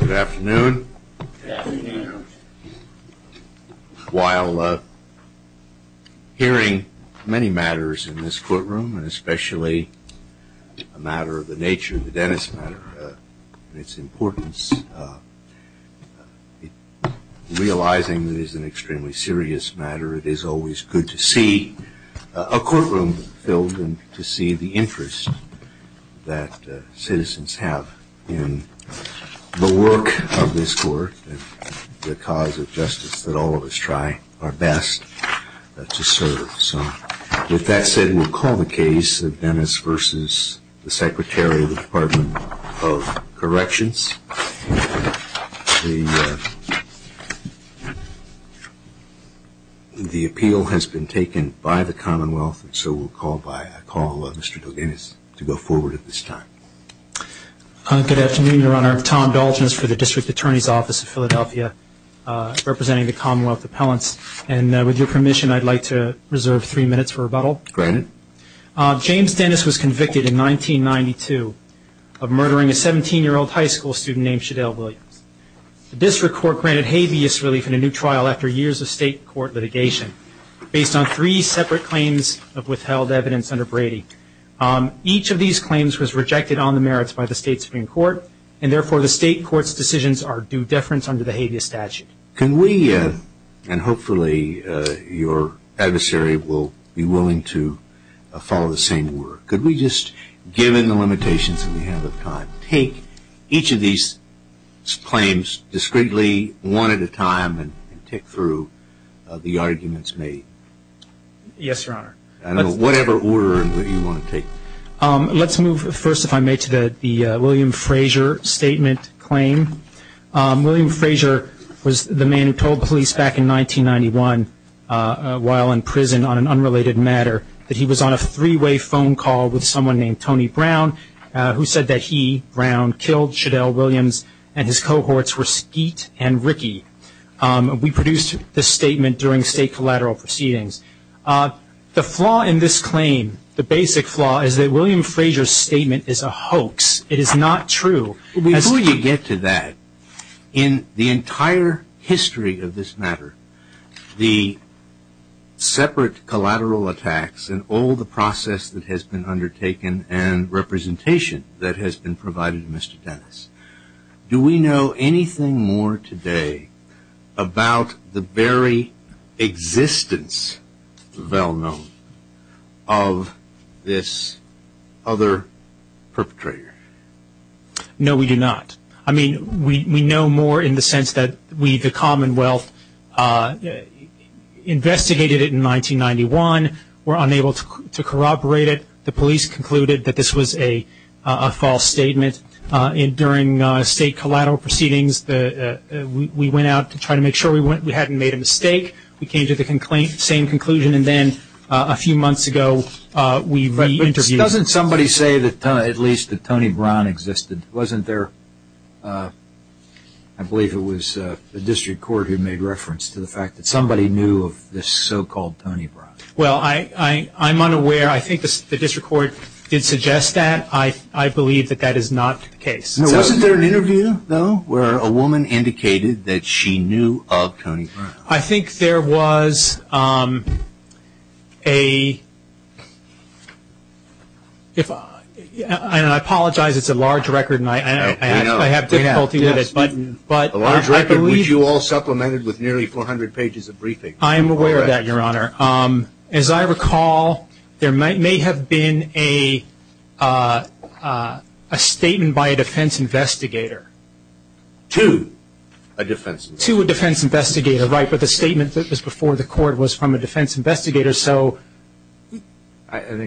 Good afternoon. While hearing many matters in this courtroom, and especially a matter of the nature of the Dennis matter and its importance, realizing that it is an extremely serious matter, it is always good to see a courtroom filled and to see the interest. that citizens have in the work of this court and the cause of justice that all of us try our best to serve. With that said, we'll call the case of Dennis v. Secretary of the Department of Corrections. The appeal has been taken by the Commonwealth, so we'll call Mr. DelGhenis to go forward at this time. Good afternoon, Your Honor. Tom DelGhenis for the District Attorney's Office of Philadelphia, representing the Commonwealth Appellants. With your permission, I'd like to reserve three minutes for rebuttal. Granted. James Dennis was convicted in 1992 of murdering a 17-year-old high school student named Shadell Williams. The district court granted habeas relief in a new trial after years of state court litigation based on three separate claims of withheld evidence under Brady. Each of these claims was rejected on the merits by the state Supreme Court, and therefore the state court's decisions are due deference under the habeas statute. Can we, and hopefully your adversary will be willing to follow the same order, could we just, given the limitations we have at the time, take each of these claims discreetly, one at a time, and tick through the arguments made? Yes, Your Honor. Whatever order you want to take. Let's move first, if I may, to the William Frazier statement claim. William Frazier was the man who told police back in 1991 while in prison on an unrelated matter that he was on a three-way phone call with someone named Tony Brown, who said that he, Brown, killed Shadell Williams and his cohorts were Skeet and Rickey. We produced this statement during state collateral proceedings. The flaw in this claim, the basic flaw, is that William Frazier's statement is a hoax. It is not true. Before you get to that, in the entire history of this matter, the separate collateral attacks and all the process that has been undertaken and representation that has been provided to Mr. Dennis, do we know anything more today about the very existence, the well-known, of this other perpetrator? No, we do not. I mean, we know more in the sense that we, the Commonwealth, investigated it in 1991, were unable to corroborate it. The police concluded that this was a false statement. During state collateral proceedings, we went out to try to make sure we hadn't made a mistake. We came to the same conclusion, and then a few months ago, we re-interviewed him. But doesn't somebody say at least that Tony Brown existed? Wasn't there, I believe it was the district court who made reference to the fact that somebody knew of this so-called Tony Brown? Well, I'm unaware. I think the district court did suggest that. I believe that that is not the case. Wasn't there an interview, though, where a woman indicated that she knew of Tony Brown? I think there was a – and I apologize, it's a large record, and I have difficulty with it. A large record, which you all supplemented with nearly 400 pages of briefing. I am aware of that, Your Honor. As I recall, there may have been a statement by a defense investigator. To a defense investigator. To a defense investigator, right, but the statement that was before the court was from a defense investigator, so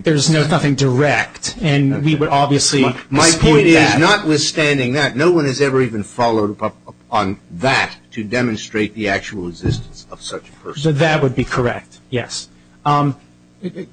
there's nothing direct. And we would obviously dispute that. My point is, notwithstanding that, no one has ever even followed up on that to demonstrate the actual existence of such a person. That would be correct, yes. To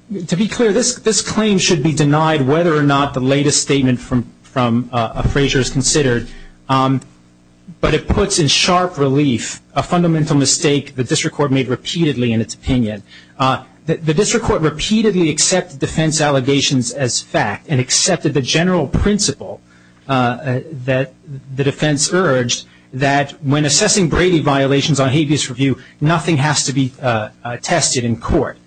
be clear, this claim should be denied whether or not the latest statement from Frazier is considered, but it puts in sharp relief a fundamental mistake the district court made repeatedly in its opinion. The district court repeatedly accepted defense allegations as fact and accepted the general principle that the defense urged, that when assessing Brady violations on habeas review, nothing has to be tested in court.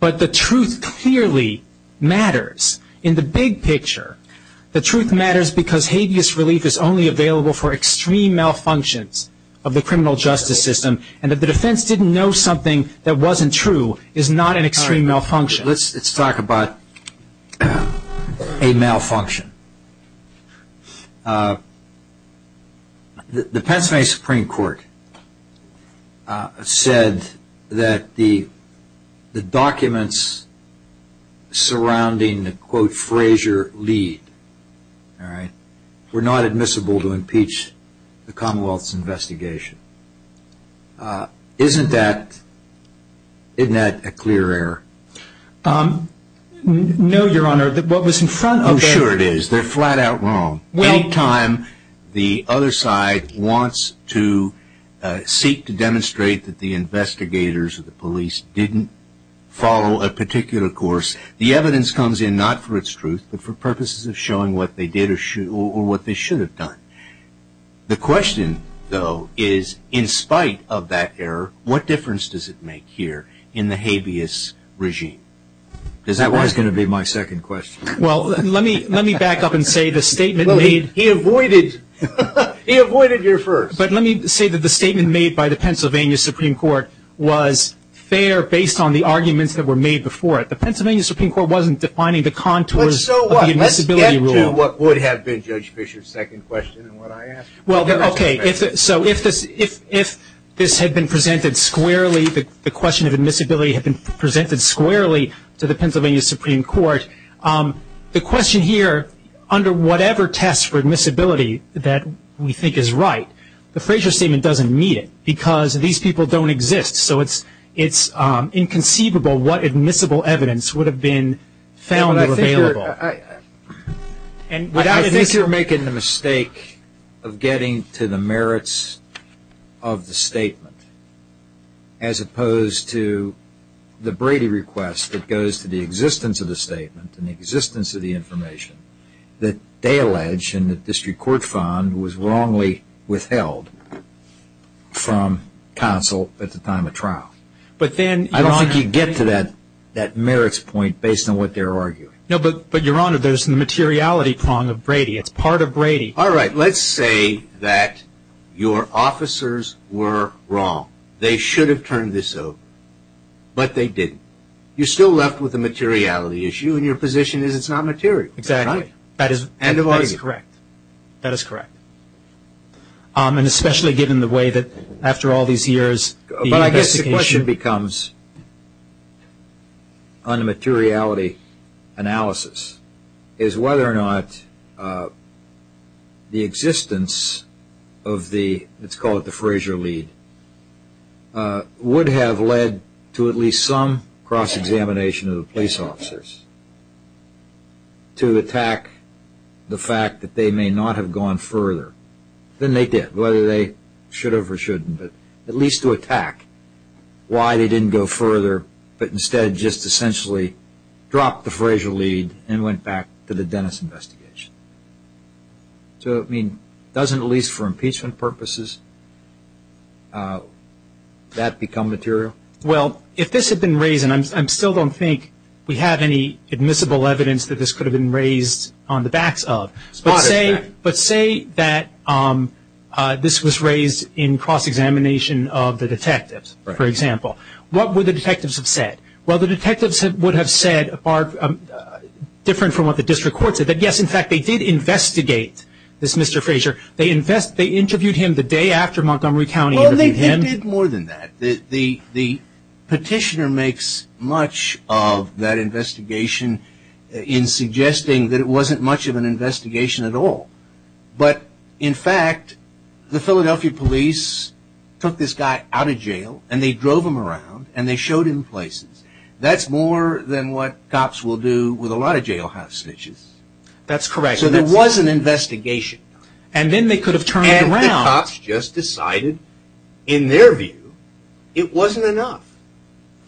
But the truth clearly matters in the big picture. The truth matters because habeas relief is only available for extreme malfunctions of the criminal justice system, and if the defense didn't know something that wasn't true, it's not an extreme malfunction. Let's talk about a malfunction. The Pennsylvania Supreme Court said that the documents surrounding the quote, isn't that a clear error? No, Your Honor. What was in front of them. Oh, sure it is. They're flat out wrong. Anytime the other side wants to seek to demonstrate that the investigators or the police didn't follow a particular course, the evidence comes in not for its truth, but for purposes of showing what they did or what they should have done. The question, though, is in spite of that error, what difference does it make here in the habeas regime? Because that was going to be my second question. Well, let me back up and say the statement made. He avoided your first. But let me say that the statement made by the Pennsylvania Supreme Court was fair based on the arguments that were made before it. The Pennsylvania Supreme Court wasn't defining the contours of the admissibility rule. To what would have been Judge Fischer's second question and what I asked. Okay, so if this had been presented squarely, the question of admissibility had been presented squarely to the Pennsylvania Supreme Court, the question here under whatever test for admissibility that we think is right, the Frazier statement doesn't meet it because these people don't exist. So it's inconceivable what admissible evidence would have been found available. I think you're making the mistake of getting to the merits of the statement as opposed to the Brady request that goes to the existence of the statement and the existence of the information that they allege and that the District Court found was wrongly withheld from counsel at the time of trial. I don't think you get to that merits point based on what they're arguing. No, but Your Honor, there's the materiality prong of Brady. It's part of Brady. All right, let's say that your officers were wrong. They should have turned this over, but they didn't. You're still left with the materiality issue and your position is it's not material. Exactly. That is correct. And especially given the way that after all these years the investigation But I guess the question becomes, on the materiality analysis, is whether or not the existence of the, let's call it the Frazier lead, would have led to at least some cross-examination of the police officers to attack the fact that they may not have gone further than they did. Whether they should have or shouldn't, but at least to attack why they didn't go further, but instead just essentially dropped the Frazier lead and went back to the Dennis investigation. So, I mean, doesn't at least for impeachment purposes that become material? Well, if this had been raised, and I still don't think we have any admissible evidence that this could have been raised on the backs of, but say that this was raised in cross-examination of the detectives, for example. What would the detectives have said? Well, the detectives would have said, different from what the district court said, that yes, in fact, they did investigate this Mr. Frazier. They interviewed him the day after Montgomery County interviewed him. Well, they did more than that. The petitioner makes much of that investigation in suggesting that it wasn't much of an investigation at all. But, in fact, the Philadelphia police took this guy out of jail and they drove him around and they showed him places. That's more than what cops will do with a lot of jailhouse snitches. That's correct. So there was an investigation. And then they could have turned it around. And the cops just decided, in their view, it wasn't enough.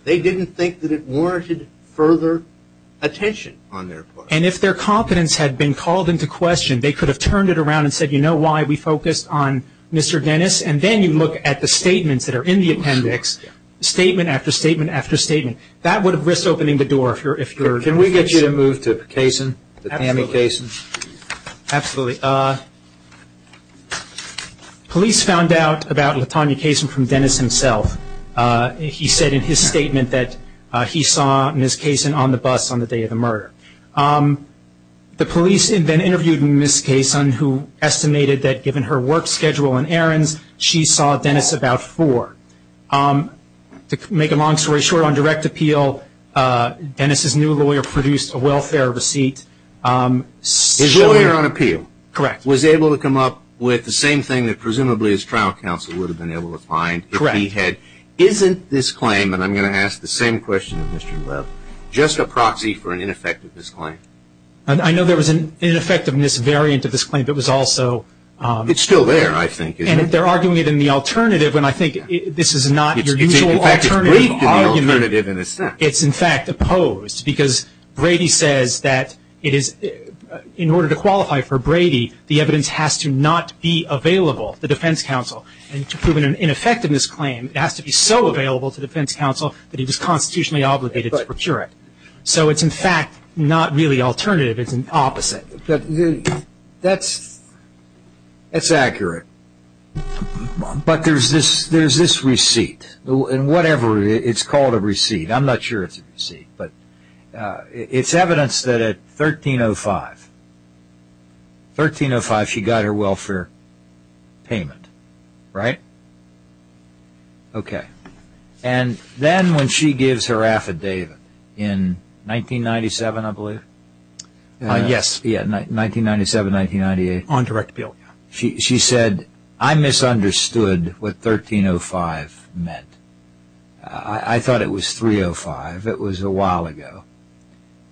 They didn't think that it warranted further attention on their part. And if their confidence had been called into question, they could have turned it around and said, you know why, we focused on Mr. Dennis, and then you look at the statements that are in the appendix, statement after statement after statement. That would have risked opening the door. Can we get you to move to Kaysen, the Tammy Kaysen? Absolutely. Police found out about Latonya Kaysen from Dennis himself. He said in his statement that he saw Ms. Kaysen on the bus on the day of the murder. The police then interviewed Ms. Kaysen, who estimated that given her work schedule and errands, she saw Dennis about four. To make a long story short, on direct appeal, Dennis' new lawyer produced a welfare receipt. His lawyer on appeal was able to come up with the same thing that presumably his trial counsel would have been able to find. Correct. Isn't this claim, and I'm going to ask the same question to Mr. Love, just a proxy for an ineffectiveness claim? I know there was an ineffectiveness variant of this claim that was also- It's still there, I think. And they're arguing it in the alternative, and I think this is not your usual alternative argument. In fact, it's briefed in the alternative in a sense. It's, in fact, opposed because Brady says that in order to qualify for Brady, the evidence has to not be available to defense counsel. And to prove an ineffectiveness claim, it has to be so available to defense counsel that he was constitutionally obligated to procure it. So it's, in fact, not really alternative. It's an opposite. That's accurate. But there's this receipt, and whatever it's called a receipt. I'm not sure it's a receipt, but it's evidence that at 1305, she got her welfare payment. Right? Okay. And then when she gives her affidavit in 1997, I believe. Yes. 1997, 1998. On direct appeal. She said, I misunderstood what 1305 meant. I thought it was 305. It was a while ago.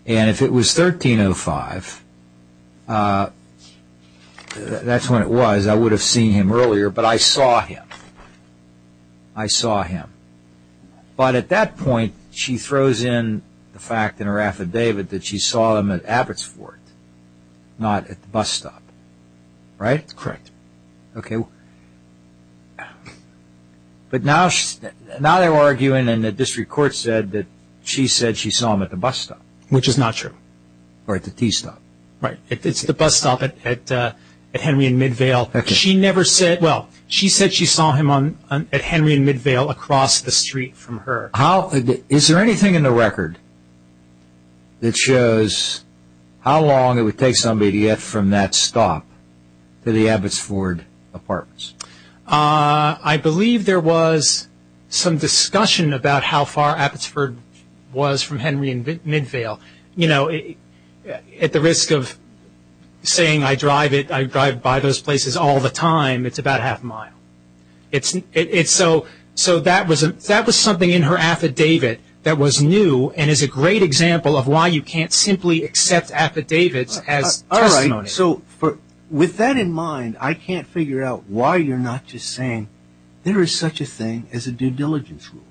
And if it was 1305, that's when it was. I would have seen him earlier, but I saw him. I saw him. But at that point, she throws in the fact in her affidavit that she saw him at Abbott's Fort, not at the bus stop. Right? Correct. Okay. But now they're arguing and the district court said that she said she saw him at the bus stop. Which is not true. Or at the T stop. Right. It's the bus stop at Henry and Midvale. She said she saw him at Henry and Midvale across the street from her. Is there anything in the record that shows how long it would take somebody to get from that stop to the Abbott's Fort apartments? I believe there was some discussion about how far Abbott's Fort was from Henry and Midvale. At the risk of saying I drive by those places all the time, it's about half a mile. So that was something in her affidavit that was new and is a great example of why you can't simply accept affidavits as testimony. All right. So with that in mind, I can't figure out why you're not just saying there is such a thing as a due diligence rule.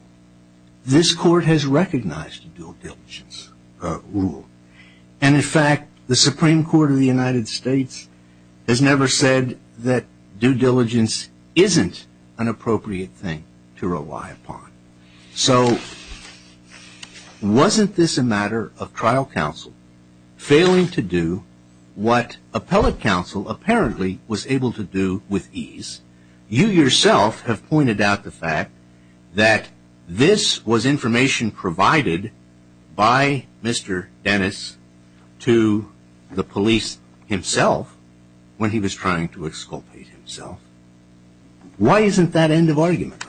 This court has recognized a due diligence rule. And, in fact, the Supreme Court of the United States has never said that due diligence isn't an appropriate thing to rely upon. So wasn't this a matter of trial counsel failing to do what appellate counsel apparently was able to do with ease? You yourself have pointed out the fact that this was information provided by Mr. Dennis to the police himself when he was trying to exculpate himself. Why isn't that end of argument?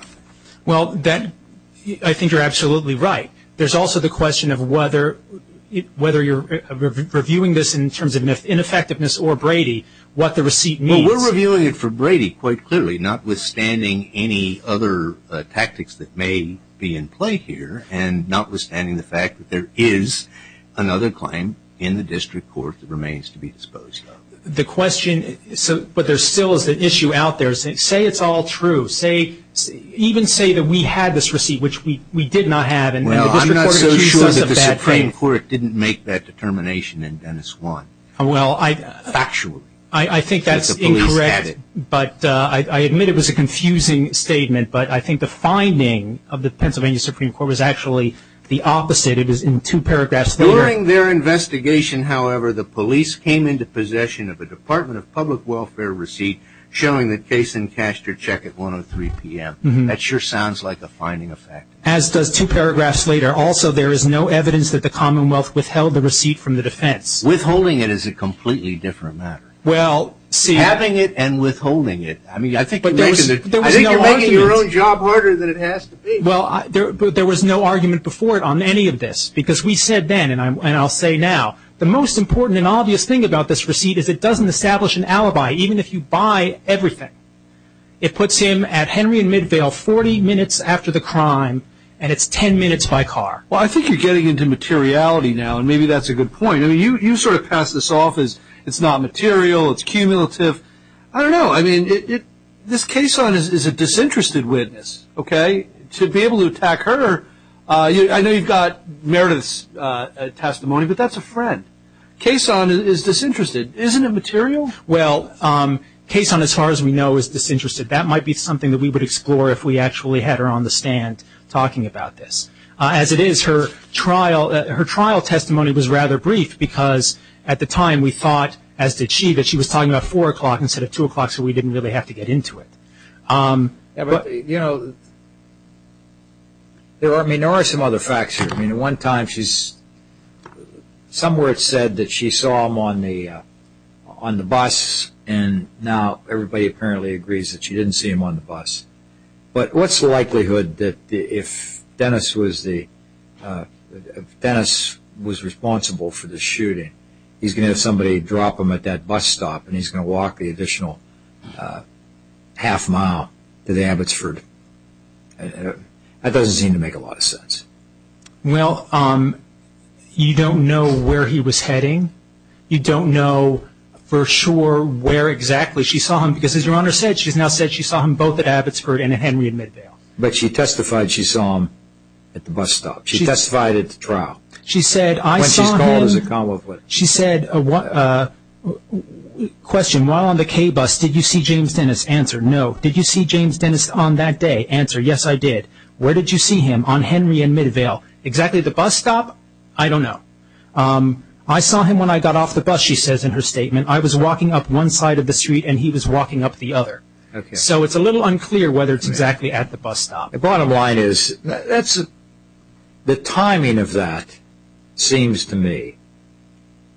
Well, I think you're absolutely right. There's also the question of whether you're reviewing this in terms of ineffectiveness or Brady, what the receipt means. We're reviewing it for Brady quite clearly, notwithstanding any other tactics that may be in play here and notwithstanding the fact that there is another claim in the district court that remains to be disposed of. The question, but there still is an issue out there. Say it's all true. Even say that we had this receipt, which we did not have. Well, I'm not so sure that the Supreme Court didn't make that determination in Dennis 1. Well, I think that's incorrect, but I admit it was a confusing statement, but I think the finding of the Pennsylvania Supreme Court was actually the opposite. It was in two paragraphs. During their investigation, however, the police came into possession of a Department of Public Welfare receipt showing the case in cash to check at 1.03 p.m. That sure sounds like a finding of fact. As does two paragraphs later. Also, there is no evidence that the Commonwealth withheld the receipt from the defense. Withholding it is a completely different matter. Having it and withholding it. I think you're making your own job harder than it has to be. There was no argument before on any of this because we said then, and I'll say now, the most important and obvious thing about this receipt is it doesn't establish an alibi, even if you buy everything. It puts him at Henry and Midvale 40 minutes after the crime, and it's 10 minutes by car. Well, I think you're getting into materiality now, and maybe that's a good point. I mean, you sort of pass this off as it's not material, it's cumulative. I don't know. I mean, this Kason is a disinterested witness, okay? To be able to attack her, I know you've got Meredith's testimony, but that's a friend. Kason is disinterested. Isn't it material? Well, Kason, as far as we know, is disinterested. That might be something that we would explore if we actually had her on the stand talking about this. As it is, her trial testimony was rather brief because at the time we thought, as did she, that she was talking about 4 o'clock instead of 2 o'clock so we didn't really have to get into it. You know, there are some other facts here. I mean, at one time she's – somewhere it said that she saw him on the bus, and now everybody apparently agrees that she didn't see him on the bus. But what's the likelihood that if Dennis was the – if Dennis was responsible for the shooting, he's going to have somebody drop him at that bus stop and he's going to walk the additional half mile to the Abbotsford? That doesn't seem to make a lot of sense. Well, you don't know where he was heading. You don't know for sure where exactly she saw him because, as Your Honor said, she's now said she saw him both at Abbotsford and at Henry and Midvale. But she testified she saw him at the bus stop. She testified at the trial. When she's called as a convict. She said, question, while on the K bus, did you see James Dennis? Answer, no. Did you see James Dennis on that day? Answer, yes, I did. Where did you see him? On Henry and Midvale. Exactly at the bus stop? I don't know. I saw him when I got off the bus, she says in her statement. I was walking up one side of the street and he was walking up the other. So it's a little unclear whether it's exactly at the bus stop. The bottom line is the timing of that seems to me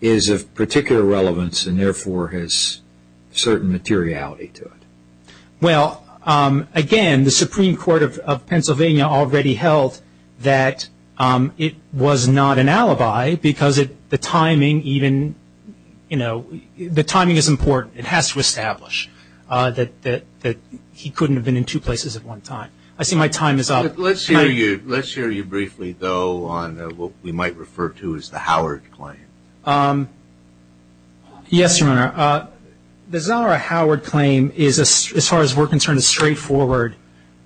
is of particular relevance and therefore has certain materiality to it. Well, again, the Supreme Court of Pennsylvania already held that it was not an alibi because the timing even, you know, the timing is important. It has to establish that he couldn't have been in two places at one time. I see my time is up. Let's hear you briefly, though, on what we might refer to as the Howard claim. Yes, Your Honor. The Zahra Howard claim, as far as we're concerned, the straightforward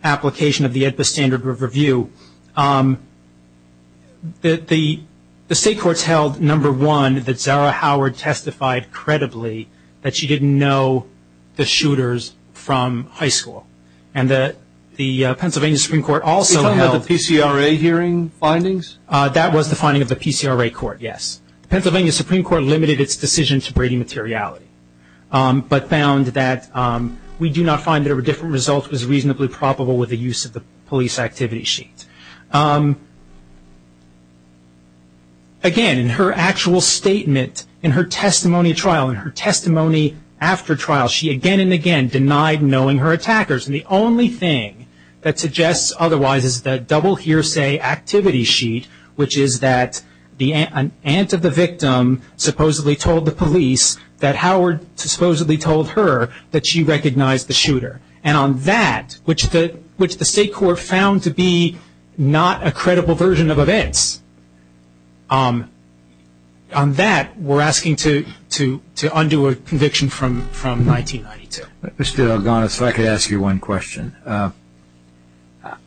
application of the AEDPA standard of review, the state courts held, number one, that Zahra Howard testified credibly that she didn't know the shooters from high school and that the Pennsylvania Supreme Court also held. Did they have the PCRA hearing findings? That was the finding of the PCRA court, yes. The Pennsylvania Supreme Court limited its decision to Brady materiality but found that we do not find there were different results was reasonably probable with the use of the police activity sheet. Again, in her actual statement, in her testimony trial, in her testimony after trial, she again and again denied knowing her attackers. And the only thing that suggests otherwise is the double hearsay activity sheet, which is that an aunt of the victim supposedly told the police that Howard supposedly told her that she recognized the shooter. And on that, which the state court found to be not a credible version of events, on that we're asking to undo a conviction from 1992. Mr. Algones, if I could ask you one question.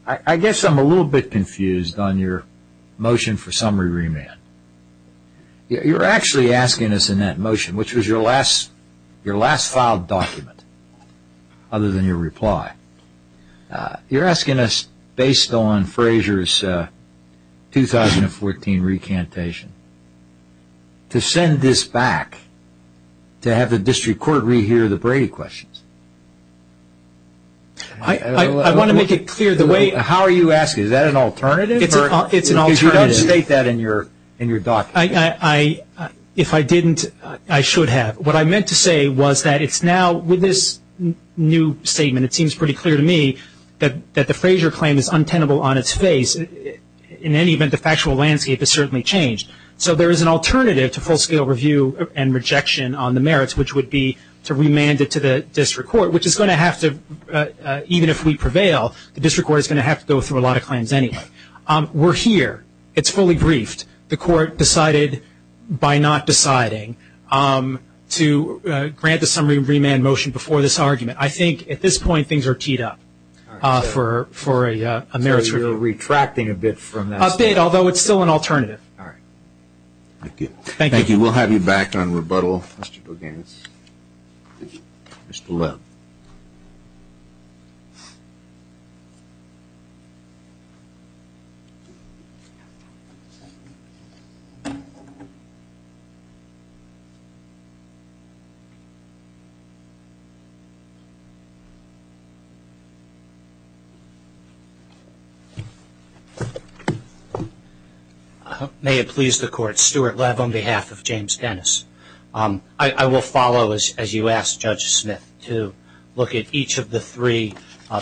I guess I'm a little bit confused on your motion for summary remand. You're actually asking us in that motion, which was your last filed document other than your reply, you're asking us based on Frazier's 2014 recantation to send this back to have the district court rehear the Brady questions. I want to make it clear the way. How are you asking? Is that an alternative? It's an alternative. Because you don't state that in your document. If I didn't, I should have. What I meant to say was that it's now with this new statement, it seems pretty clear to me that the Frazier claim is untenable on its face. In any event, the factual landscape has certainly changed. So there is an alternative to full-scale review and rejection on the merits, which would be to remand it to the district court, which is going to have to, even if we prevail, the district court is going to have to go through a lot of claims anyway. We're here. It's fully briefed. The court decided by not deciding to grant the summary remand motion before this argument. I think at this point things are teed up for a merits review. So you're retracting a bit from that? A bit, although it's still an alternative. All right. Thank you. Thank you. We'll have you back on rebuttal, Mr. Bogans. Mr. Webb. May it please the court. Stuart Webb on behalf of James Dennis. I will follow, as you asked Judge Smith, to look at each of the three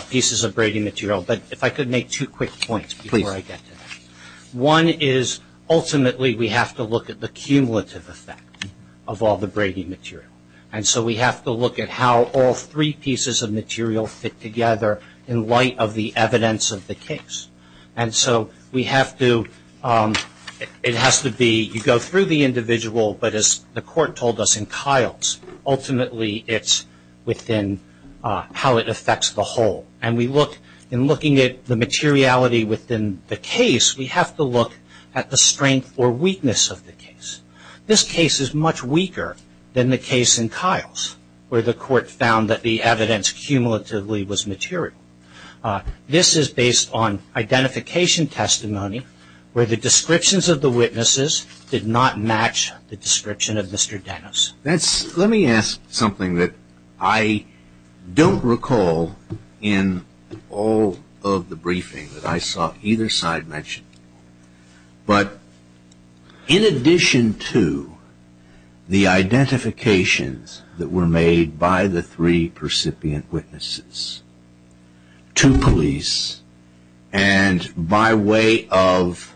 pieces of braiding material. But if I could make two quick points before I get to that. Please. One is ultimately we have to look at the cumulative effect of all the braiding material. And so we have to look at how all three pieces of material fit together in light of the evidence of the case. And so we have to, it has to be, you go through the individual, but as the court told us in Kiles, ultimately it's within how it affects the whole. And we look, in looking at the materiality within the case, we have to look at the strength or weakness of the case. This case is much weaker than the case in Kiles, where the court found that the evidence cumulatively was material. This is based on identification testimony where the descriptions of the witnesses did not match the description of Mr. Dennis. Let me ask something that I don't recall in all of the briefing that I saw either side mention. But in addition to the identifications that were made by the three percipient witnesses to police, and by way of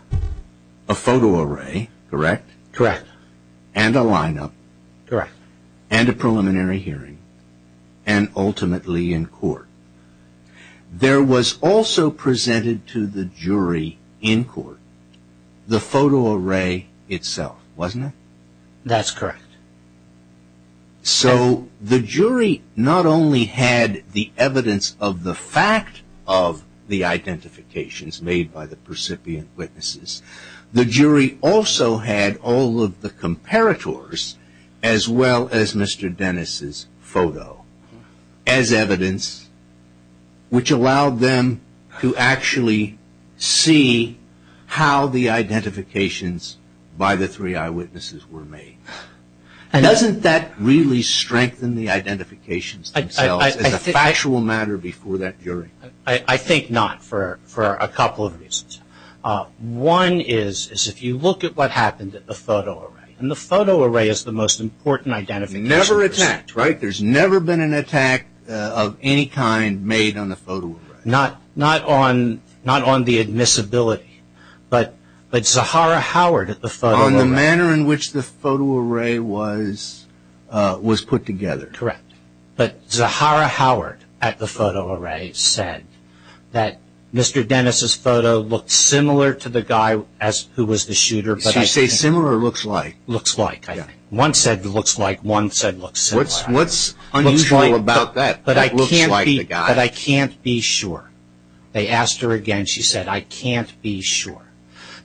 a photo array, correct? Correct. And a lineup. Correct. And a preliminary hearing. And ultimately in court. There was also presented to the jury in court the photo array itself, wasn't it? That's correct. So the jury not only had the evidence of the fact of the identifications made by the percipient witnesses, the jury also had all of the comparators as well as Mr. Dennis' photo as evidence, which allowed them to actually see how the identifications by the three eyewitnesses were made. Doesn't that really strengthen the identifications themselves as a factual matter before that jury? I think not for a couple of reasons. One is if you look at what happened at the photo array, and the photo array is the most important identification. Never attacked, right? There's never been an attack of any kind made on the photo array. Not on the admissibility, but Zahara Howard at the photo array. On the manner in which the photo array was put together. Correct. But Zahara Howard at the photo array said that Mr. Dennis' photo looked similar to the guy who was the shooter. Did she say similar or looks like? Looks like. One said looks like, one said looks similar. What's unusual about that? But I can't be sure. They asked her again. She said, I can't be sure.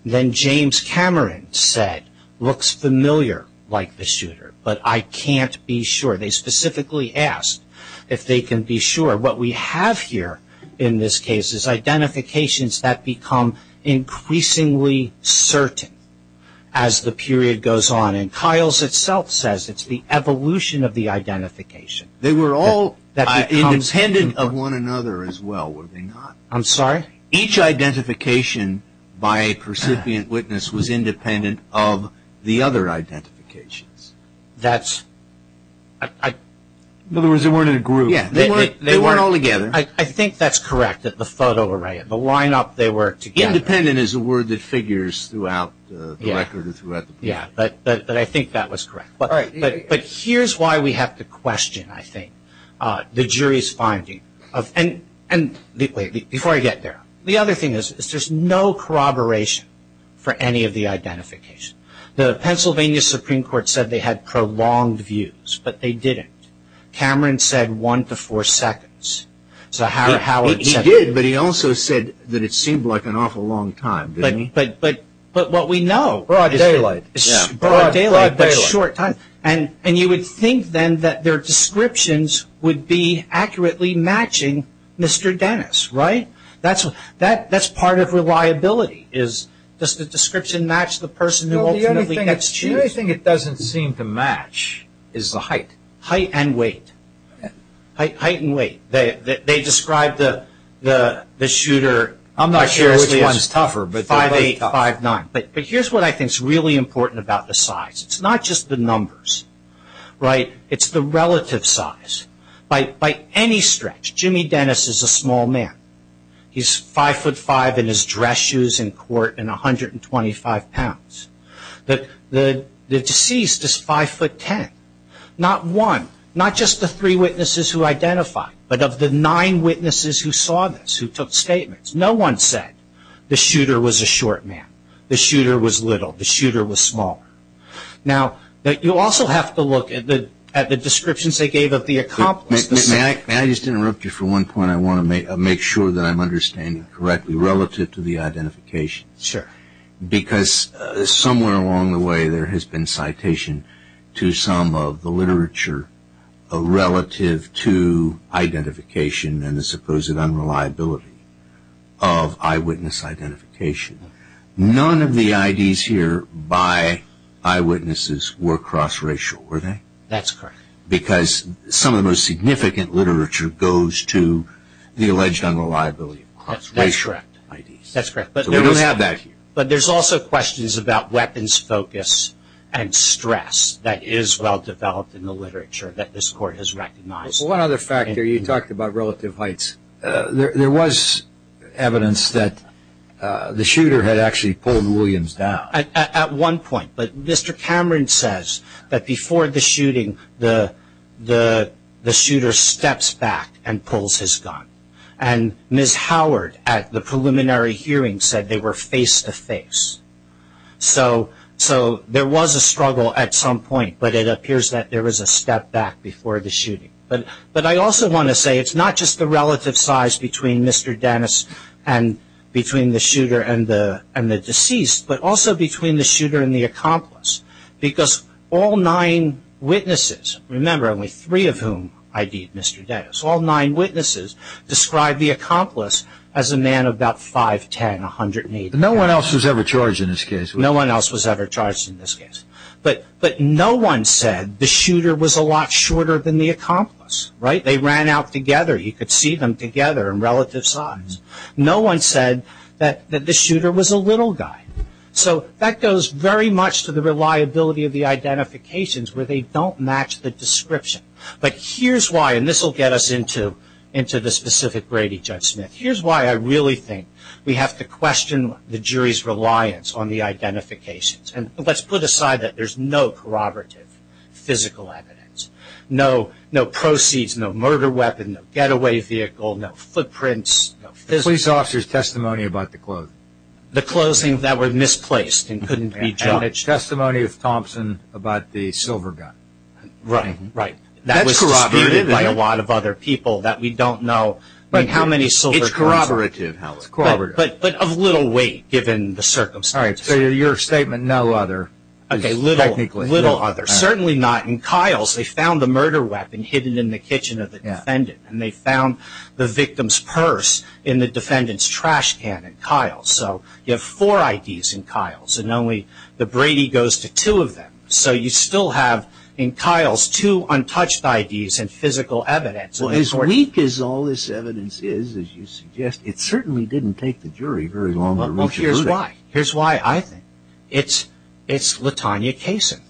Then James Cameron said, looks familiar like the shooter, but I can't be sure. They specifically asked if they can be sure. What we have here in this case is identifications that become increasingly certain as the period goes on. And Kyle's itself says it's the evolution of the identification. They were all independent of one another as well, were they not? I'm sorry? Each identification by a percipient witness was independent of the other identifications. In other words, they weren't in a group. They weren't all together. I think that's correct, that the photo array, the lineup, they were together. Independent is a word that figures throughout the record. But I think that was correct. But here's why we have to question, I think, the jury's finding. And before I get there, the other thing is there's no corroboration for any of the identification. The Pennsylvania Supreme Court said they had prolonged views, but they didn't. Cameron said one to four seconds. So Howard said that. He did, but he also said that it seemed like an awful long time, didn't he? But what we know is broad daylight, but short time. And you would think then that their descriptions would be accurately matching Mr. Dennis, right? That's part of reliability. Does the description match the person who ultimately gets to choose? The only thing it doesn't seem to match is the height. Height and weight. Height and weight. They described the shooter as 5'8", 5'9". But here's what I think is really important about the size. It's not just the numbers, right? It's the relative size. By any stretch, Jimmy Dennis is a small man. He's 5'5", in his dress shoes in court, and 125 pounds. The deceased is 5'10". Not one, not just the three witnesses who identified, but of the nine witnesses who saw this, who took statements, no one said the shooter was a short man, the shooter was little, the shooter was small. Now, you also have to look at the descriptions they gave of the accomplice. May I just interrupt you for one point? I want to make sure that I'm understanding correctly relative to the identification. Sure. Because somewhere along the way there has been citation to some of the literature relative to identification and the supposed unreliability of eyewitness identification. None of the IDs here by eyewitnesses were cross-racial, were they? That's correct. Because some of the most significant literature goes to the alleged unreliability of cross-racial IDs. That's correct. We don't have that here. But there's also questions about weapons focus and stress that is well-developed in the literature that this court has recognized. One other factor, you talked about relative heights. There was evidence that the shooter had actually pulled Williams down. At one point. But Mr. Cameron says that before the shooting the shooter steps back and pulls his gun. And Ms. Howard at the preliminary hearing said they were face-to-face. So there was a struggle at some point, but it appears that there was a step back before the shooting. But I also want to say it's not just the relative size between Mr. Dennis and between the shooter and the deceased, but also between the shooter and the accomplice. Because all nine witnesses, remember only three of whom ID'd Mr. Dennis, all nine witnesses described the accomplice as a man about 5'10", 180. No one else was ever charged in this case. No one else was ever charged in this case. But no one said the shooter was a lot shorter than the accomplice. They ran out together. You could see them together in relative size. No one said that the shooter was a little guy. So that goes very much to the reliability of the identifications where they don't match the description. But here's why, and this will get us into the specific Brady judgment. Here's why I really think we have to question the jury's reliance on the identifications. Let's put aside that there's no corroborative physical evidence. No proceeds, no murder weapon, no getaway vehicle, no footprints. The police officer's testimony about the clothes. The clothes that were misplaced and couldn't be judged. And testimony of Thompson about the silver gun. Right, right. That was disputed by a lot of other people that we don't know. It's corroborative. But of little weight given the circumstances. All right, so your statement, no other. Okay, little other. Certainly not in Kyle's. They found the murder weapon hidden in the kitchen of the defendant. And they found the victim's purse in the defendant's trash can in Kyle's. So you have four IDs in Kyle's, and only the Brady goes to two of them. So you still have in Kyle's two untouched IDs and physical evidence. As weak as all this evidence is, as you suggest, it certainly didn't take the jury very long to reach a conclusion. Here's why. Here's why I think. It's Latonya Kaysen.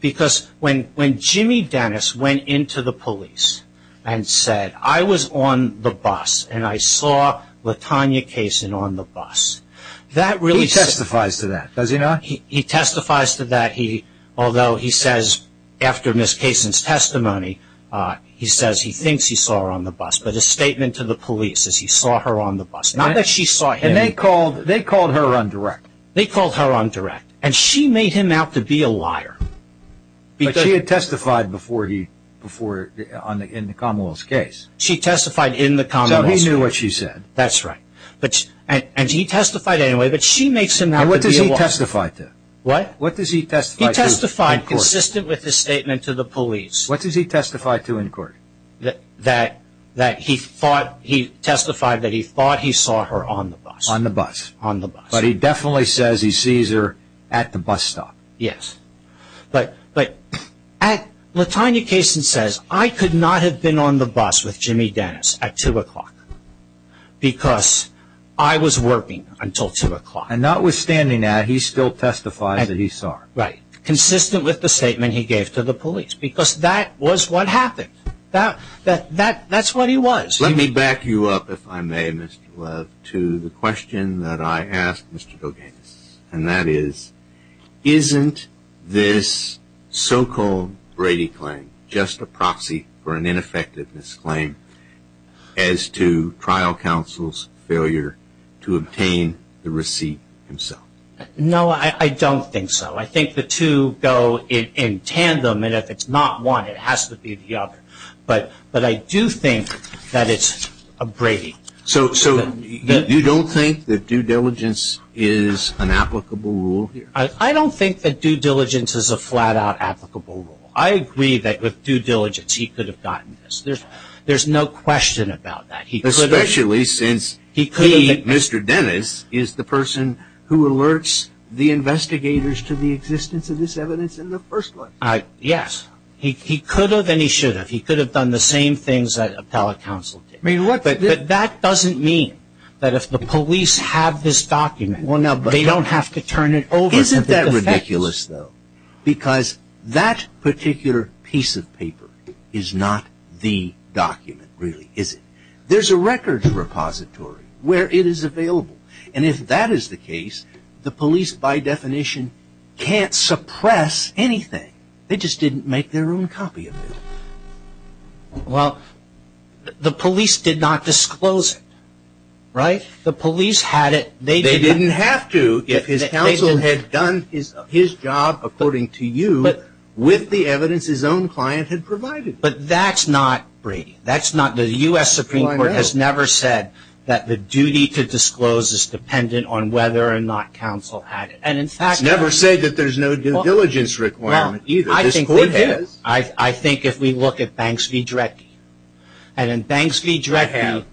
Because when Jimmy Dennis went into the police and said, I was on the bus and I saw Latonya Kaysen on the bus. He testifies to that, does he not? He testifies to that, although he says after Ms. Kaysen's testimony, he says he thinks he saw her on the bus. But his statement to the police is he saw her on the bus. Not that she saw him. And they called her on direct. They called her on direct. And she made him out to be a liar. But she had testified in the Commonwealth's case. She testified in the Commonwealth's case. So he knew what she said. That's right. And he testified anyway, but she makes him out to be a liar. What does he testify to? What? What does he testify to in court? He testified consistent with his statement to the police. What does he testify to in court? That he testified that he thought he saw her on the bus. On the bus. On the bus. But he definitely says he sees her at the bus stop. Yes. But Latonya Kaysen says, I could not have been on the bus with Jimmy Dennis at 2 o'clock because I was working until 2 o'clock. And notwithstanding that, he still testifies that he saw her. Right. Consistent with the statement he gave to the police. Because that was what happened. That's what he was. Let me back you up, if I may, Mr. Love, to the question that I asked Mr. Gilgamesh. And that is, isn't this so-called Brady claim just a proxy for an ineffectiveness claim as to trial counsel's failure to obtain the receipt himself? No, I don't think so. I think the two go in tandem. And if it's not one, it has to be the other. But I do think that it's a Brady. So you don't think that due diligence is an applicable rule here? I don't think that due diligence is a flat-out applicable rule. I agree that with due diligence he could have gotten this. There's no question about that. Especially since he, Mr. Dennis, is the person who alerts the investigators to the existence of this evidence in the first place. Yes. He could have and he should have. He could have done the same things that appellate counsel did. But that doesn't mean that if the police have this document, they don't have to turn it over to the defense. Isn't that ridiculous, though? Because that particular piece of paper is not the document, really, is it? There's a records repository where it is available. And if that is the case, the police, by definition, can't suppress anything. They just didn't make their own copy of it. Well, the police did not disclose it, right? The police had it. They didn't have to if his counsel had done his job, according to you, with the evidence his own client had provided. But that's not Brady. That's not the U.S. Supreme Court has never said that the duty to disclose is dependent on whether or not counsel had it. It's never said that there's no due diligence requirement either. This Court has. I think if we look at Banks v. Drecke. And in Banks v. Drecke,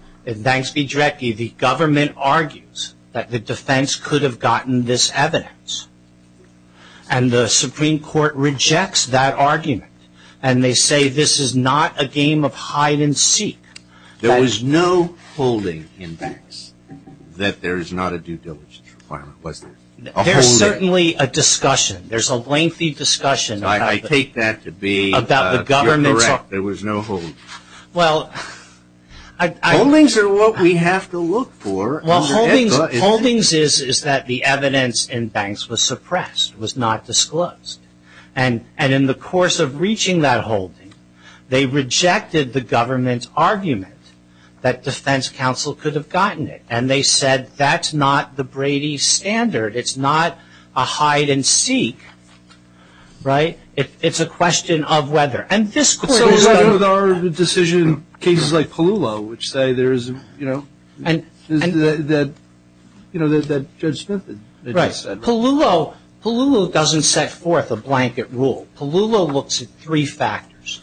the government argues that the defense could have gotten this evidence. And the Supreme Court rejects that argument. And they say this is not a game of hide-and-seek. There was no holding in Banks that there is not a due diligence requirement, was there? There's certainly a discussion. There's a lengthy discussion about the government. You're correct. There was no holding. Holdings are what we have to look for. Holdings is that the evidence in Banks was suppressed, was not disclosed. And in the course of reaching that holding, they rejected the government's argument that defense counsel could have gotten it. And they said that's not the Brady standard. It's not a hide-and-seek. Right? It's a question of whether. And this Court has done. So what about our decision, cases like Palullo, which say there is, you know, that Judge Smith had just said. Right. In Palullo, Palullo doesn't set forth a blanket rule. Palullo looks at three factors,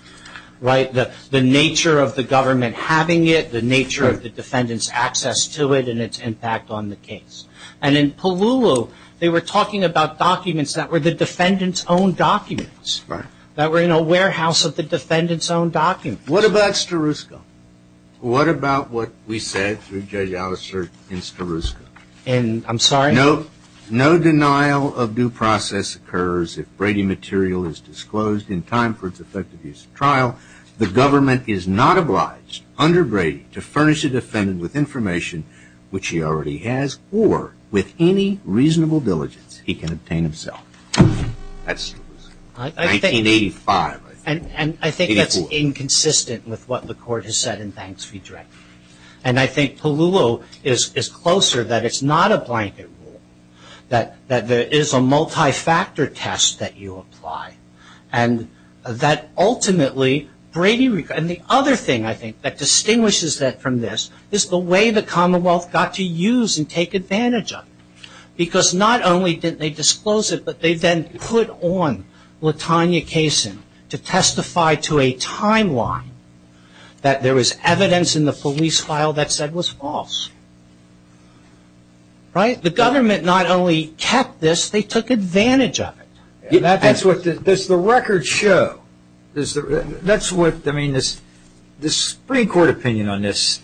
right? The nature of the government having it, the nature of the defendant's access to it and its impact on the case. And in Palullo, they were talking about documents that were the defendant's own documents. Right. That were in a warehouse of the defendant's own documents. What about Starusco? What about what we said through Judge Allister in Starusco? In, I'm sorry? No denial of due process occurs if Brady material is disclosed in time for its effective use of trial. The government is not obliged under Brady to furnish the defendant with information which he already has or with any reasonable diligence he can obtain himself. That's 1985, I think. And I think that's inconsistent with what the Court has said, and thanks for redirecting me. And I think Palullo is closer that it's not a blanket rule. That there is a multi-factor test that you apply. And that ultimately Brady, and the other thing I think that distinguishes that from this is the way the Commonwealth got to use and take advantage of it. Because not only did they disclose it, but they then put on Latanya Kaysen to testify to a timeline that there was evidence in the police file that said was false. Right? The government not only kept this, they took advantage of it. That's what, does the record show, that's what, I mean, this Supreme Court opinion on this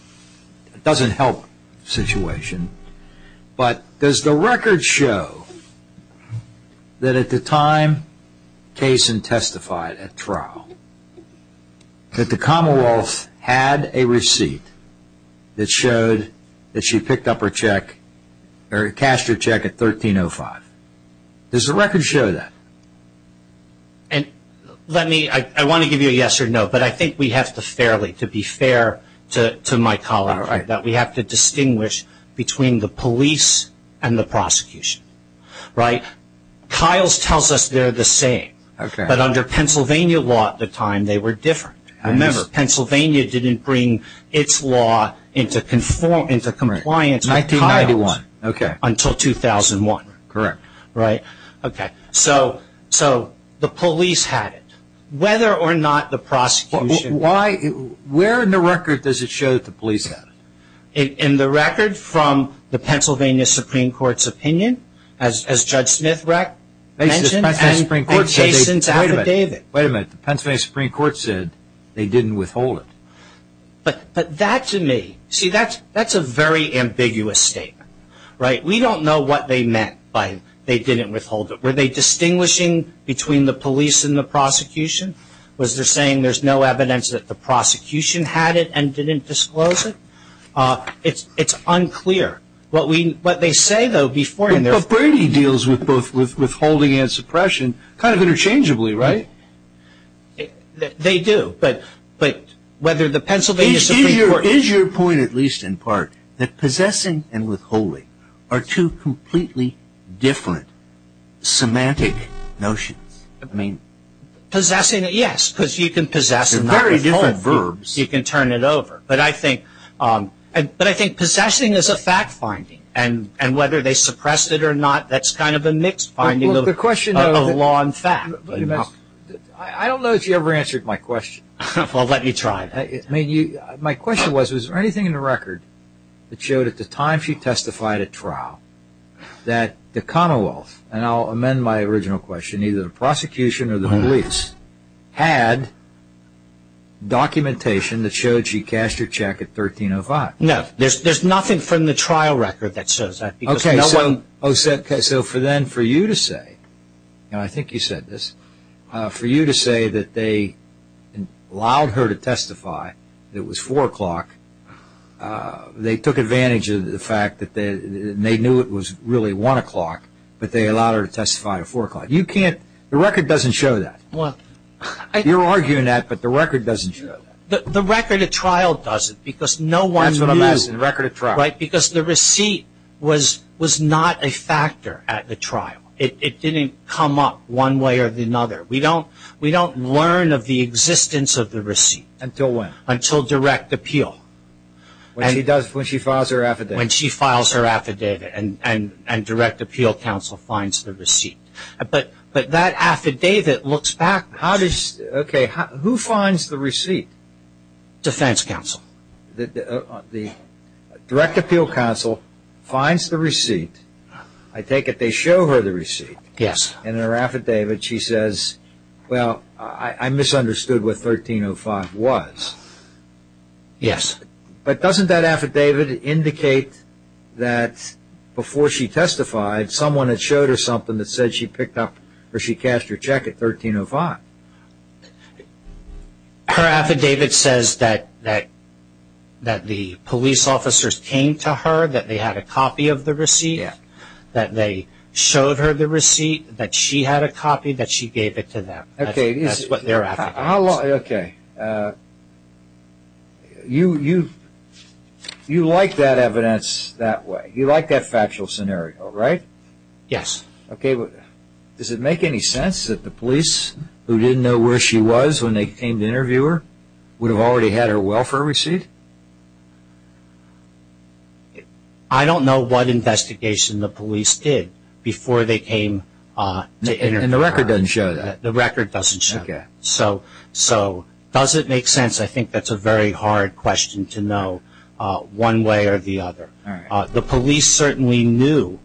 doesn't help the situation. But does the record show that at the time Kaysen testified at trial, that the Commonwealth had a receipt that showed that she picked up her check, or cashed her check at 1305. Does the record show that? And let me, I want to give you a yes or no, but I think we have to fairly, to be fair to my colleague, that we have to distinguish between the police and the prosecution. Right? Kyle's tells us they're the same, but under Pennsylvania law at the time they were different. Remember, Pennsylvania didn't bring its law into compliance with Kyle's until 2001. Correct. Right? Okay. So the police had it, whether or not the prosecution. Why, where in the record does it show that the police had it? In the record from the Pennsylvania Supreme Court's opinion, as Judge Smith mentioned, and Kaysen's affidavit. Wait a minute. The Pennsylvania Supreme Court said they didn't withhold it. But that to me, see, that's a very ambiguous statement. Right? We don't know what they meant by they didn't withhold it. Were they distinguishing between the police and the prosecution? Was there saying there's no evidence that the prosecution had it and didn't disclose it? It's unclear. What they say, though, before and therefore. But Brady deals with both withholding and suppression kind of interchangeably, right? They do. But whether the Pennsylvania Supreme Court. Is your point, at least in part, that possessing and withholding are two completely different semantic notions? Possessing, yes, because you can possess and not withhold. They're very different verbs. You can turn it over. But I think possessing is a fact finding. And whether they suppressed it or not, that's kind of a mixed finding of a law and fact. I don't know if you ever answered my question. Well, let me try. My question was, is there anything in the record that showed at the time she testified at trial that the Commonwealth, and I'll amend my original question, either the prosecution or the police, had documentation that showed she cashed her check at 1305? No. There's nothing from the trial record that says that. Okay. So for then for you to say, and I think you said this, for you to say that they allowed her to testify, it was 4 o'clock, they took advantage of the fact that they knew it was really 1 o'clock, but they allowed her to testify at 4 o'clock. The record doesn't show that. You're arguing that, but the record doesn't show that. The record at trial doesn't because no one knew. That's what I'm asking, the record at trial. Right, because the receipt was not a factor at the trial. It didn't come up one way or another. We don't learn of the existence of the receipt. Until when? When she files her affidavit. When she files her affidavit and direct appeal counsel finds the receipt. But that affidavit looks back. Okay, who finds the receipt? Defense counsel. The direct appeal counsel finds the receipt. I take it they show her the receipt. Yes. And in her affidavit she says, well, I misunderstood what 1305 was. Yes. But doesn't that affidavit indicate that before she testified, someone had showed her something that said she picked up or she cast her check at 1305? Her affidavit says that the police officers came to her, that they had a copy of the receipt, that they showed her the receipt, that she had a copy, that she gave it to them. That's what their affidavit is. Okay. You like that evidence that way. You like that factual scenario, right? Yes. Okay. Does it make any sense that the police, who didn't know where she was when they came to interview her, would have already had her welfare receipt? I don't know what investigation the police did before they came to interview her. And the record doesn't show that. The record doesn't show that. So does it make sense? I think that's a very hard question to know one way or the other. The police certainly knew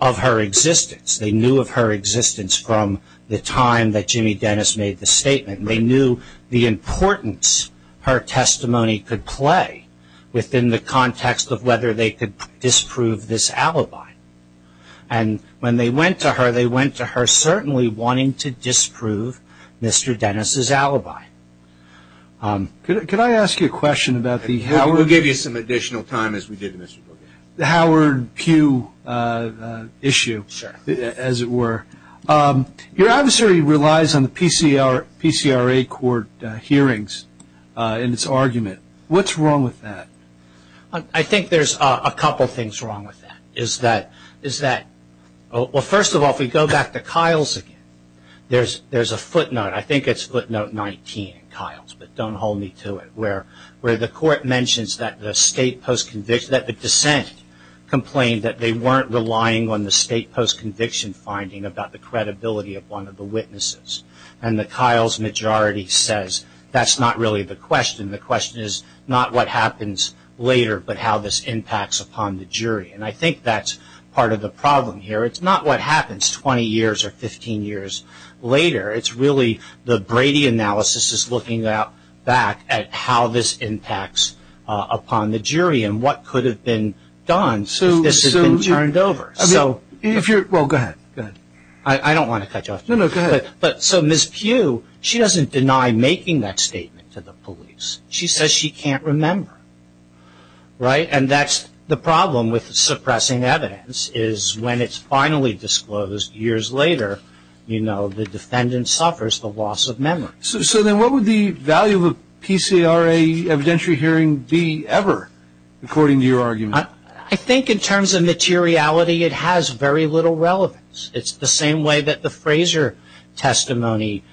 of her existence. They knew of her existence from the time that Jimmy Dennis made the statement. They knew the importance her testimony could play within the context of whether they could disprove this alibi. And when they went to her, they went to her certainly wanting to disprove Mr. Dennis' alibi. Could I ask you a question about the Howard Pugh issue, as it were? Your adversary relies on the PCRA court hearings in its argument. What's wrong with that? I think there's a couple things wrong with that. First of all, if we go back to Kiles again, there's a footnote. I think it's footnote 19 in Kiles, but don't hold me to it, where the court mentions that the state post-conviction, that the dissent complained that they weren't relying on the state post- conviction finding about the credibility of one of the witnesses. And the Kiles majority says that's not really the question. The question is not what happens later, but how this impacts upon the jury. And I think that's part of the problem here. It's not what happens 20 years or 15 years later. It's really the Brady analysis is looking back at how this impacts upon the jury and what could have been done if this had been turned over. Well, go ahead. I don't want to cut you off. No, no, go ahead. So Ms. Pugh, she doesn't deny making that statement to the police. She says she can't remember. Right? And that's the problem with suppressing evidence, is when it's finally disclosed years later, you know, the defendant suffers the loss of memory. So then what would the value of a PCRA evidentiary hearing be ever, according to your argument? I think in terms of materiality, it has very little relevance. It's the same way that the Fraser testimony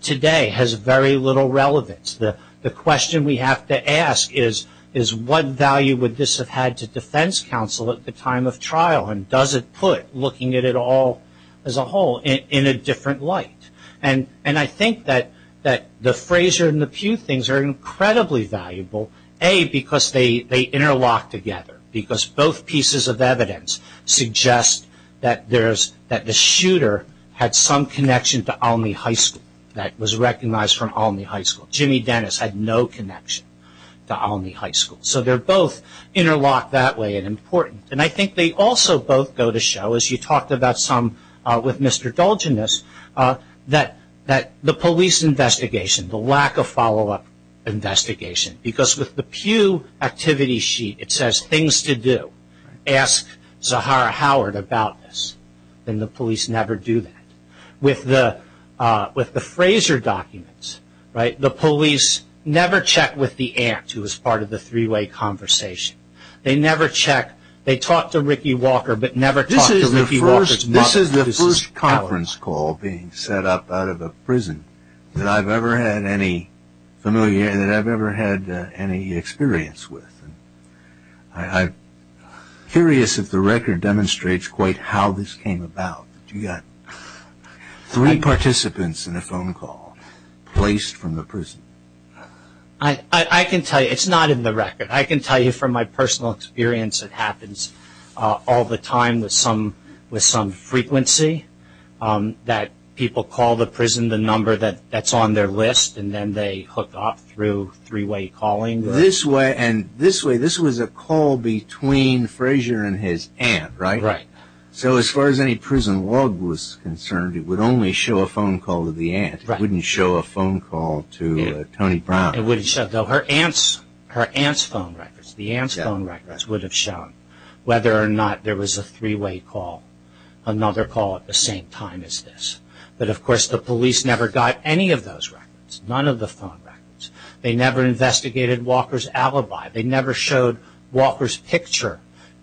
today has very little relevance. The question we have to ask is, what value would this have had to defense counsel at the time of trial, and does it put looking at it all as a whole in a different light? And I think that the Fraser and the Pugh things are incredibly valuable, A, because they interlock together, because both pieces of evidence suggest that the shooter had some connection to Olney High School, that was recognized from Olney High School. Jimmy Dennis had no connection to Olney High School. So they're both interlocked that way and important. And I think they also both go to show, as you talked about some with Mr. Dulgeness, that the police investigation, the lack of follow-up investigation, because with the Pugh activity sheet, it says things to do. Ask Zahara Howard about this. And the police never do that. With the Fraser documents, the police never check with the aunt, who was part of the three-way conversation. They never check. They talk to Ricky Walker, but never talk to Ricky Walker's mother. This is the first conference call being set up out of a prison that I've ever had any experience with. I'm curious if the record demonstrates quite how this came about. You've got three participants in a phone call placed from the prison. I can tell you, it's not in the record. I can tell you from my personal experience, it happens all the time with some frequency that people call the prison, the number that's on their list, and then they hook up through three-way calling. And this way, this was a call between Fraser and his aunt, right? Right. So as far as any prison log was concerned, it would only show a phone call to the aunt. It wouldn't show a phone call to Tony Brown. It wouldn't show. Her aunt's phone records, the aunt's phone records, would have shown whether or not there was a three-way call, another call at the same time as this. But, of course, the police never got any of those records, none of the phone records. They never investigated Walker's alibi. They never showed Walker's picture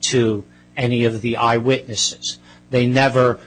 to any of the eyewitnesses. They never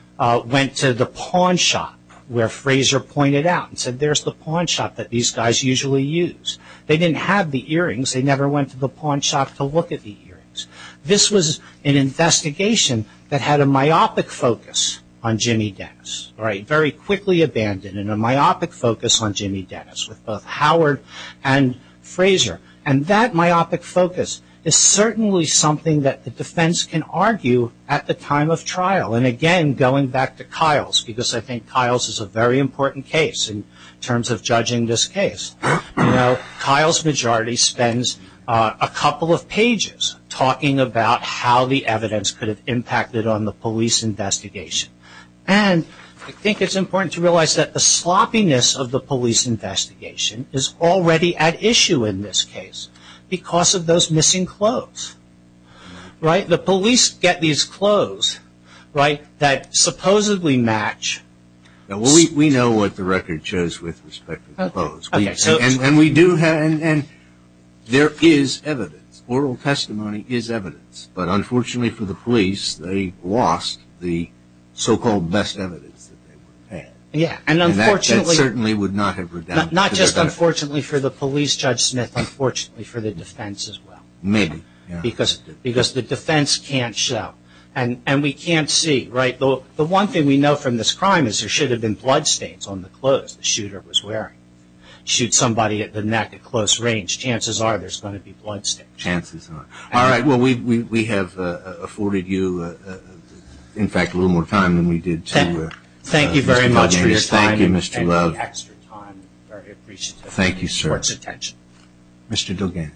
went to the pawn shop where Fraser pointed out and said, there's the pawn shop that these guys usually use. They didn't have the earrings. They never went to the pawn shop to look at the earrings. This was an investigation that had a myopic focus on Jimmy Dennis, right, very quickly abandoned, and a myopic focus on Jimmy Dennis, with both Howard and Fraser. And that myopic focus is certainly something that the defense can argue at the time of trial. And, again, going back to Kyle's, because I think Kyle's is a very important case in terms of judging this case, Kyle's majority spends a couple of pages talking about how the evidence could have impacted on the police investigation. And I think it's important to realize that the sloppiness of the police investigation is already at issue in this case because of those missing clothes, right? The police get these clothes, right, that supposedly match. We know what the record shows with respect to the clothes. And we do have, and there is evidence. Oral testimony is evidence. But, unfortunately for the police, they lost the so-called best evidence. Yeah. And that certainly would not have redoubled. Not just unfortunately for the police, Judge Smith, unfortunately for the defense as well. Maybe, yeah. Because the defense can't show. And we can't see, right? The one thing we know from this crime is there should have been bloodstains on the clothes the shooter was wearing. Shoot somebody at the neck at close range, chances are there's going to be bloodstains. Chances are. All right. Well, we have afforded you, in fact, a little more time than we did to Mr. Dugan. Thank you very much for your time. Thank you, Mr. Love. And for the extra time. Very appreciative. Thank you, sir. Much attention. Mr. Dugan,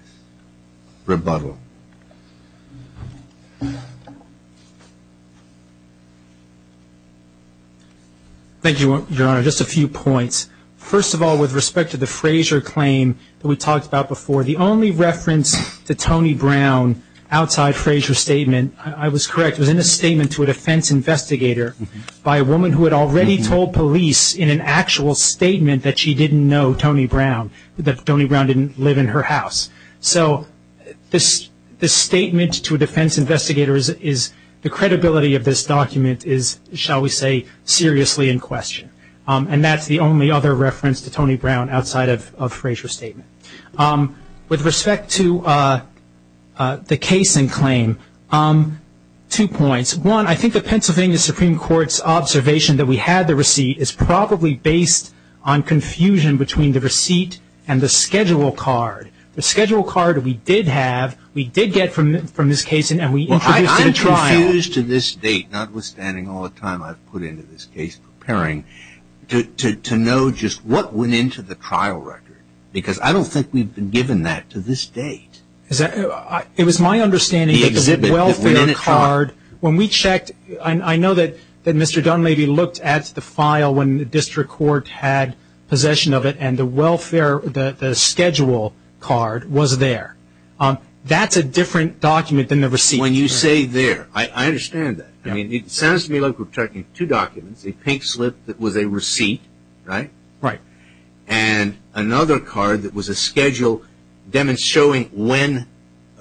rebuttal. Thank you, Your Honor. Just a few points. First of all, with respect to the Frazier claim that we talked about before, the only reference to Tony Brown outside Frazier's statement, I was correct, was in a statement to a defense investigator by a woman who had already told police in an actual statement that she didn't know Tony Brown, that Tony Brown didn't live in her house. So this statement to a defense investigator is the credibility of this document is, shall we say, seriously in question. And that's the only other reference to Tony Brown outside of Frazier's statement. With respect to the case in claim, two points. One, I think the Pennsylvania Supreme Court's observation that we had the receipt is probably based on confusion between the receipt and the schedule card. The schedule card we did have, we did get from this case and we introduced it in trial. I'm confused to this date, notwithstanding all the time I've put into this case preparing, to know just what went into the trial record, because I don't think we've been given that to this date. It was my understanding that the welfare card, when we checked, I know that Mr. Dunleavy looked at the file when the district court had possession of it and the welfare, the schedule card was there. That's a different document than the receipt. When you say there, I understand that. It sounds to me like we're checking two documents, a pink slip that was a receipt, right? Right. And another card that was a schedule demonstrating when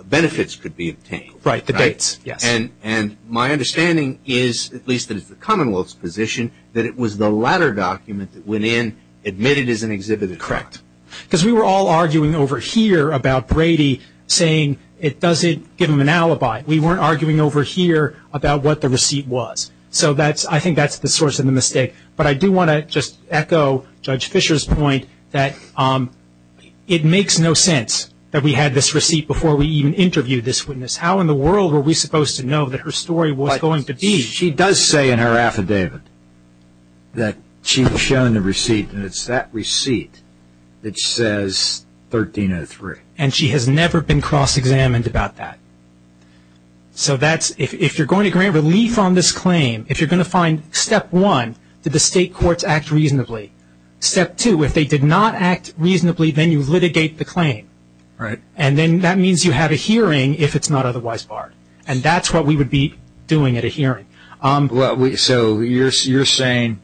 benefits could be obtained. Right, the dates, yes. And my understanding is, at least in the Commonwealth's position, that it was the latter document that went in, admitted as an exhibited fraud. Correct. We weren't arguing over here about what the receipt was. So I think that's the source of the mistake. But I do want to just echo Judge Fisher's point that it makes no sense that we had this receipt before we even interviewed this witness. How in the world were we supposed to know that her story was going to be? She does say in her affidavit that she's shown the receipt, and it's that receipt that says 1303. And she has never been cross-examined about that. So if you're going to grant relief on this claim, if you're going to find step one, did the state courts act reasonably? Step two, if they did not act reasonably, then you litigate the claim. Right. And then that means you have a hearing if it's not otherwise barred. And that's what we would be doing at a hearing. So you're saying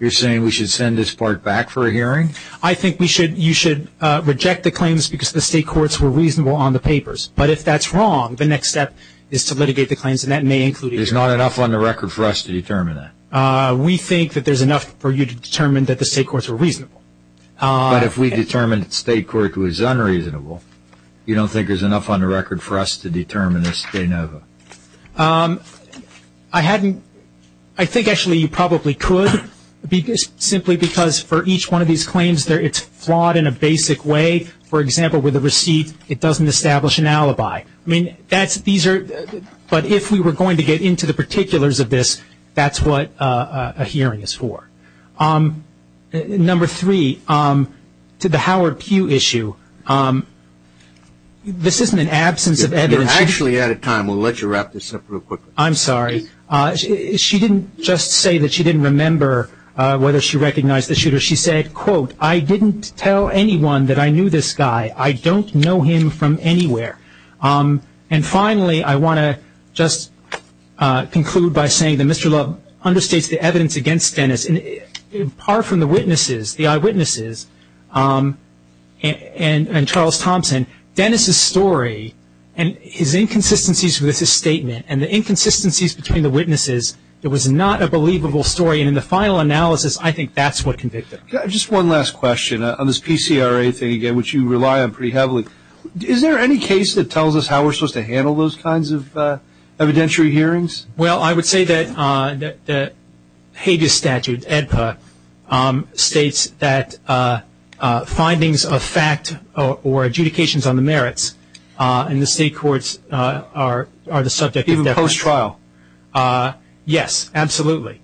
we should send this part back for a hearing? I think you should reject the claims because the state courts were reasonable on the papers. But if that's wrong, the next step is to litigate the claims, and that may include a hearing. There's not enough on the record for us to determine that. We think that there's enough for you to determine that the state courts were reasonable. But if we determined the state court was unreasonable, you don't think there's enough on the record for us to determine this de novo? I think actually you probably could, simply because for each one of these claims it's flawed in a basic way. For example, with a receipt it doesn't establish an alibi. But if we were going to get into the particulars of this, that's what a hearing is for. Number three, to the Howard Pugh issue, this isn't an absence of evidence. We're actually out of time. We'll let you wrap this up real quick. I'm sorry. She didn't just say that she didn't remember whether she recognized the shooter. She said, quote, I didn't tell anyone that I knew this guy. I don't know him from anywhere. And finally, I want to just conclude by saying that Mr. Love understates the evidence against Dennis. Apart from the witnesses, the eyewitnesses, and Charles Thompson, Dennis's story and his inconsistencies with his statement and the inconsistencies between the witnesses, it was not a believable story. And in the final analysis, I think that's what convicted him. Just one last question. On this PCRA thing again, which you rely on pretty heavily, is there any case that tells us how we're supposed to handle those kinds of evidentiary hearings? Well, I would say that Hague's statute, EDPA, states that findings of fact or adjudications on the merits in the state courts are the subject of deference. Even post-trial? Yes, absolutely.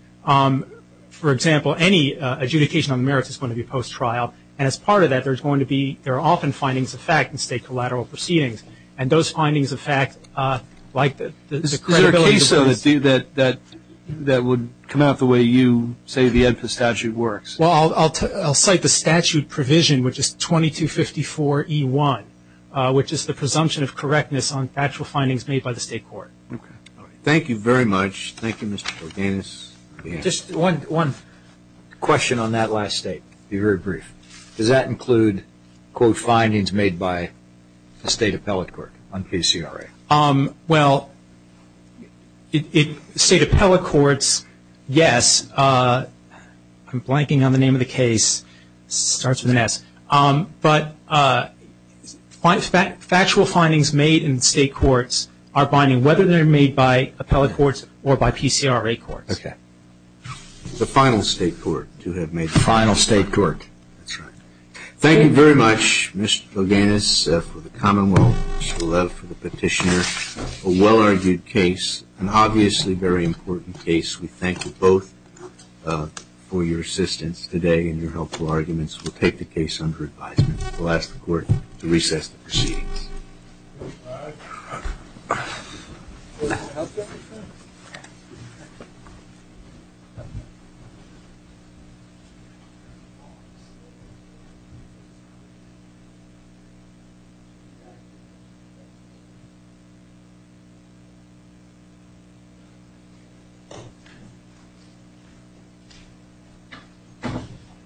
For example, any adjudication on the merits is going to be post-trial. And as part of that, there are often findings of fact in state collateral proceedings. And those findings of fact, like the credibility of the court. Is there a case of it that would come out the way you say the EDPA statute works? Well, I'll cite the statute provision, which is 2254E1, which is the presumption of correctness on actual findings made by the state court. Okay. Thank you very much. Thank you, Mr. Borganis. Just one question on that last state. Be very brief. Does that include, quote, findings made by the state appellate court on PCRA? Well, state appellate courts, yes. I'm blanking on the name of the case. It starts with an S. But factual findings made in state courts are binding, whether they're made by appellate courts or by PCRA courts. Okay. The final state court, to have made the final state court. That's right. Thank you very much, Mr. Borganis, for the commonwealth. For the petitioner. A well-argued case. An obviously very important case. We thank you both for your assistance today and your helpful arguments. We'll take the case under advisement. We'll ask the court to recess the proceedings. All right.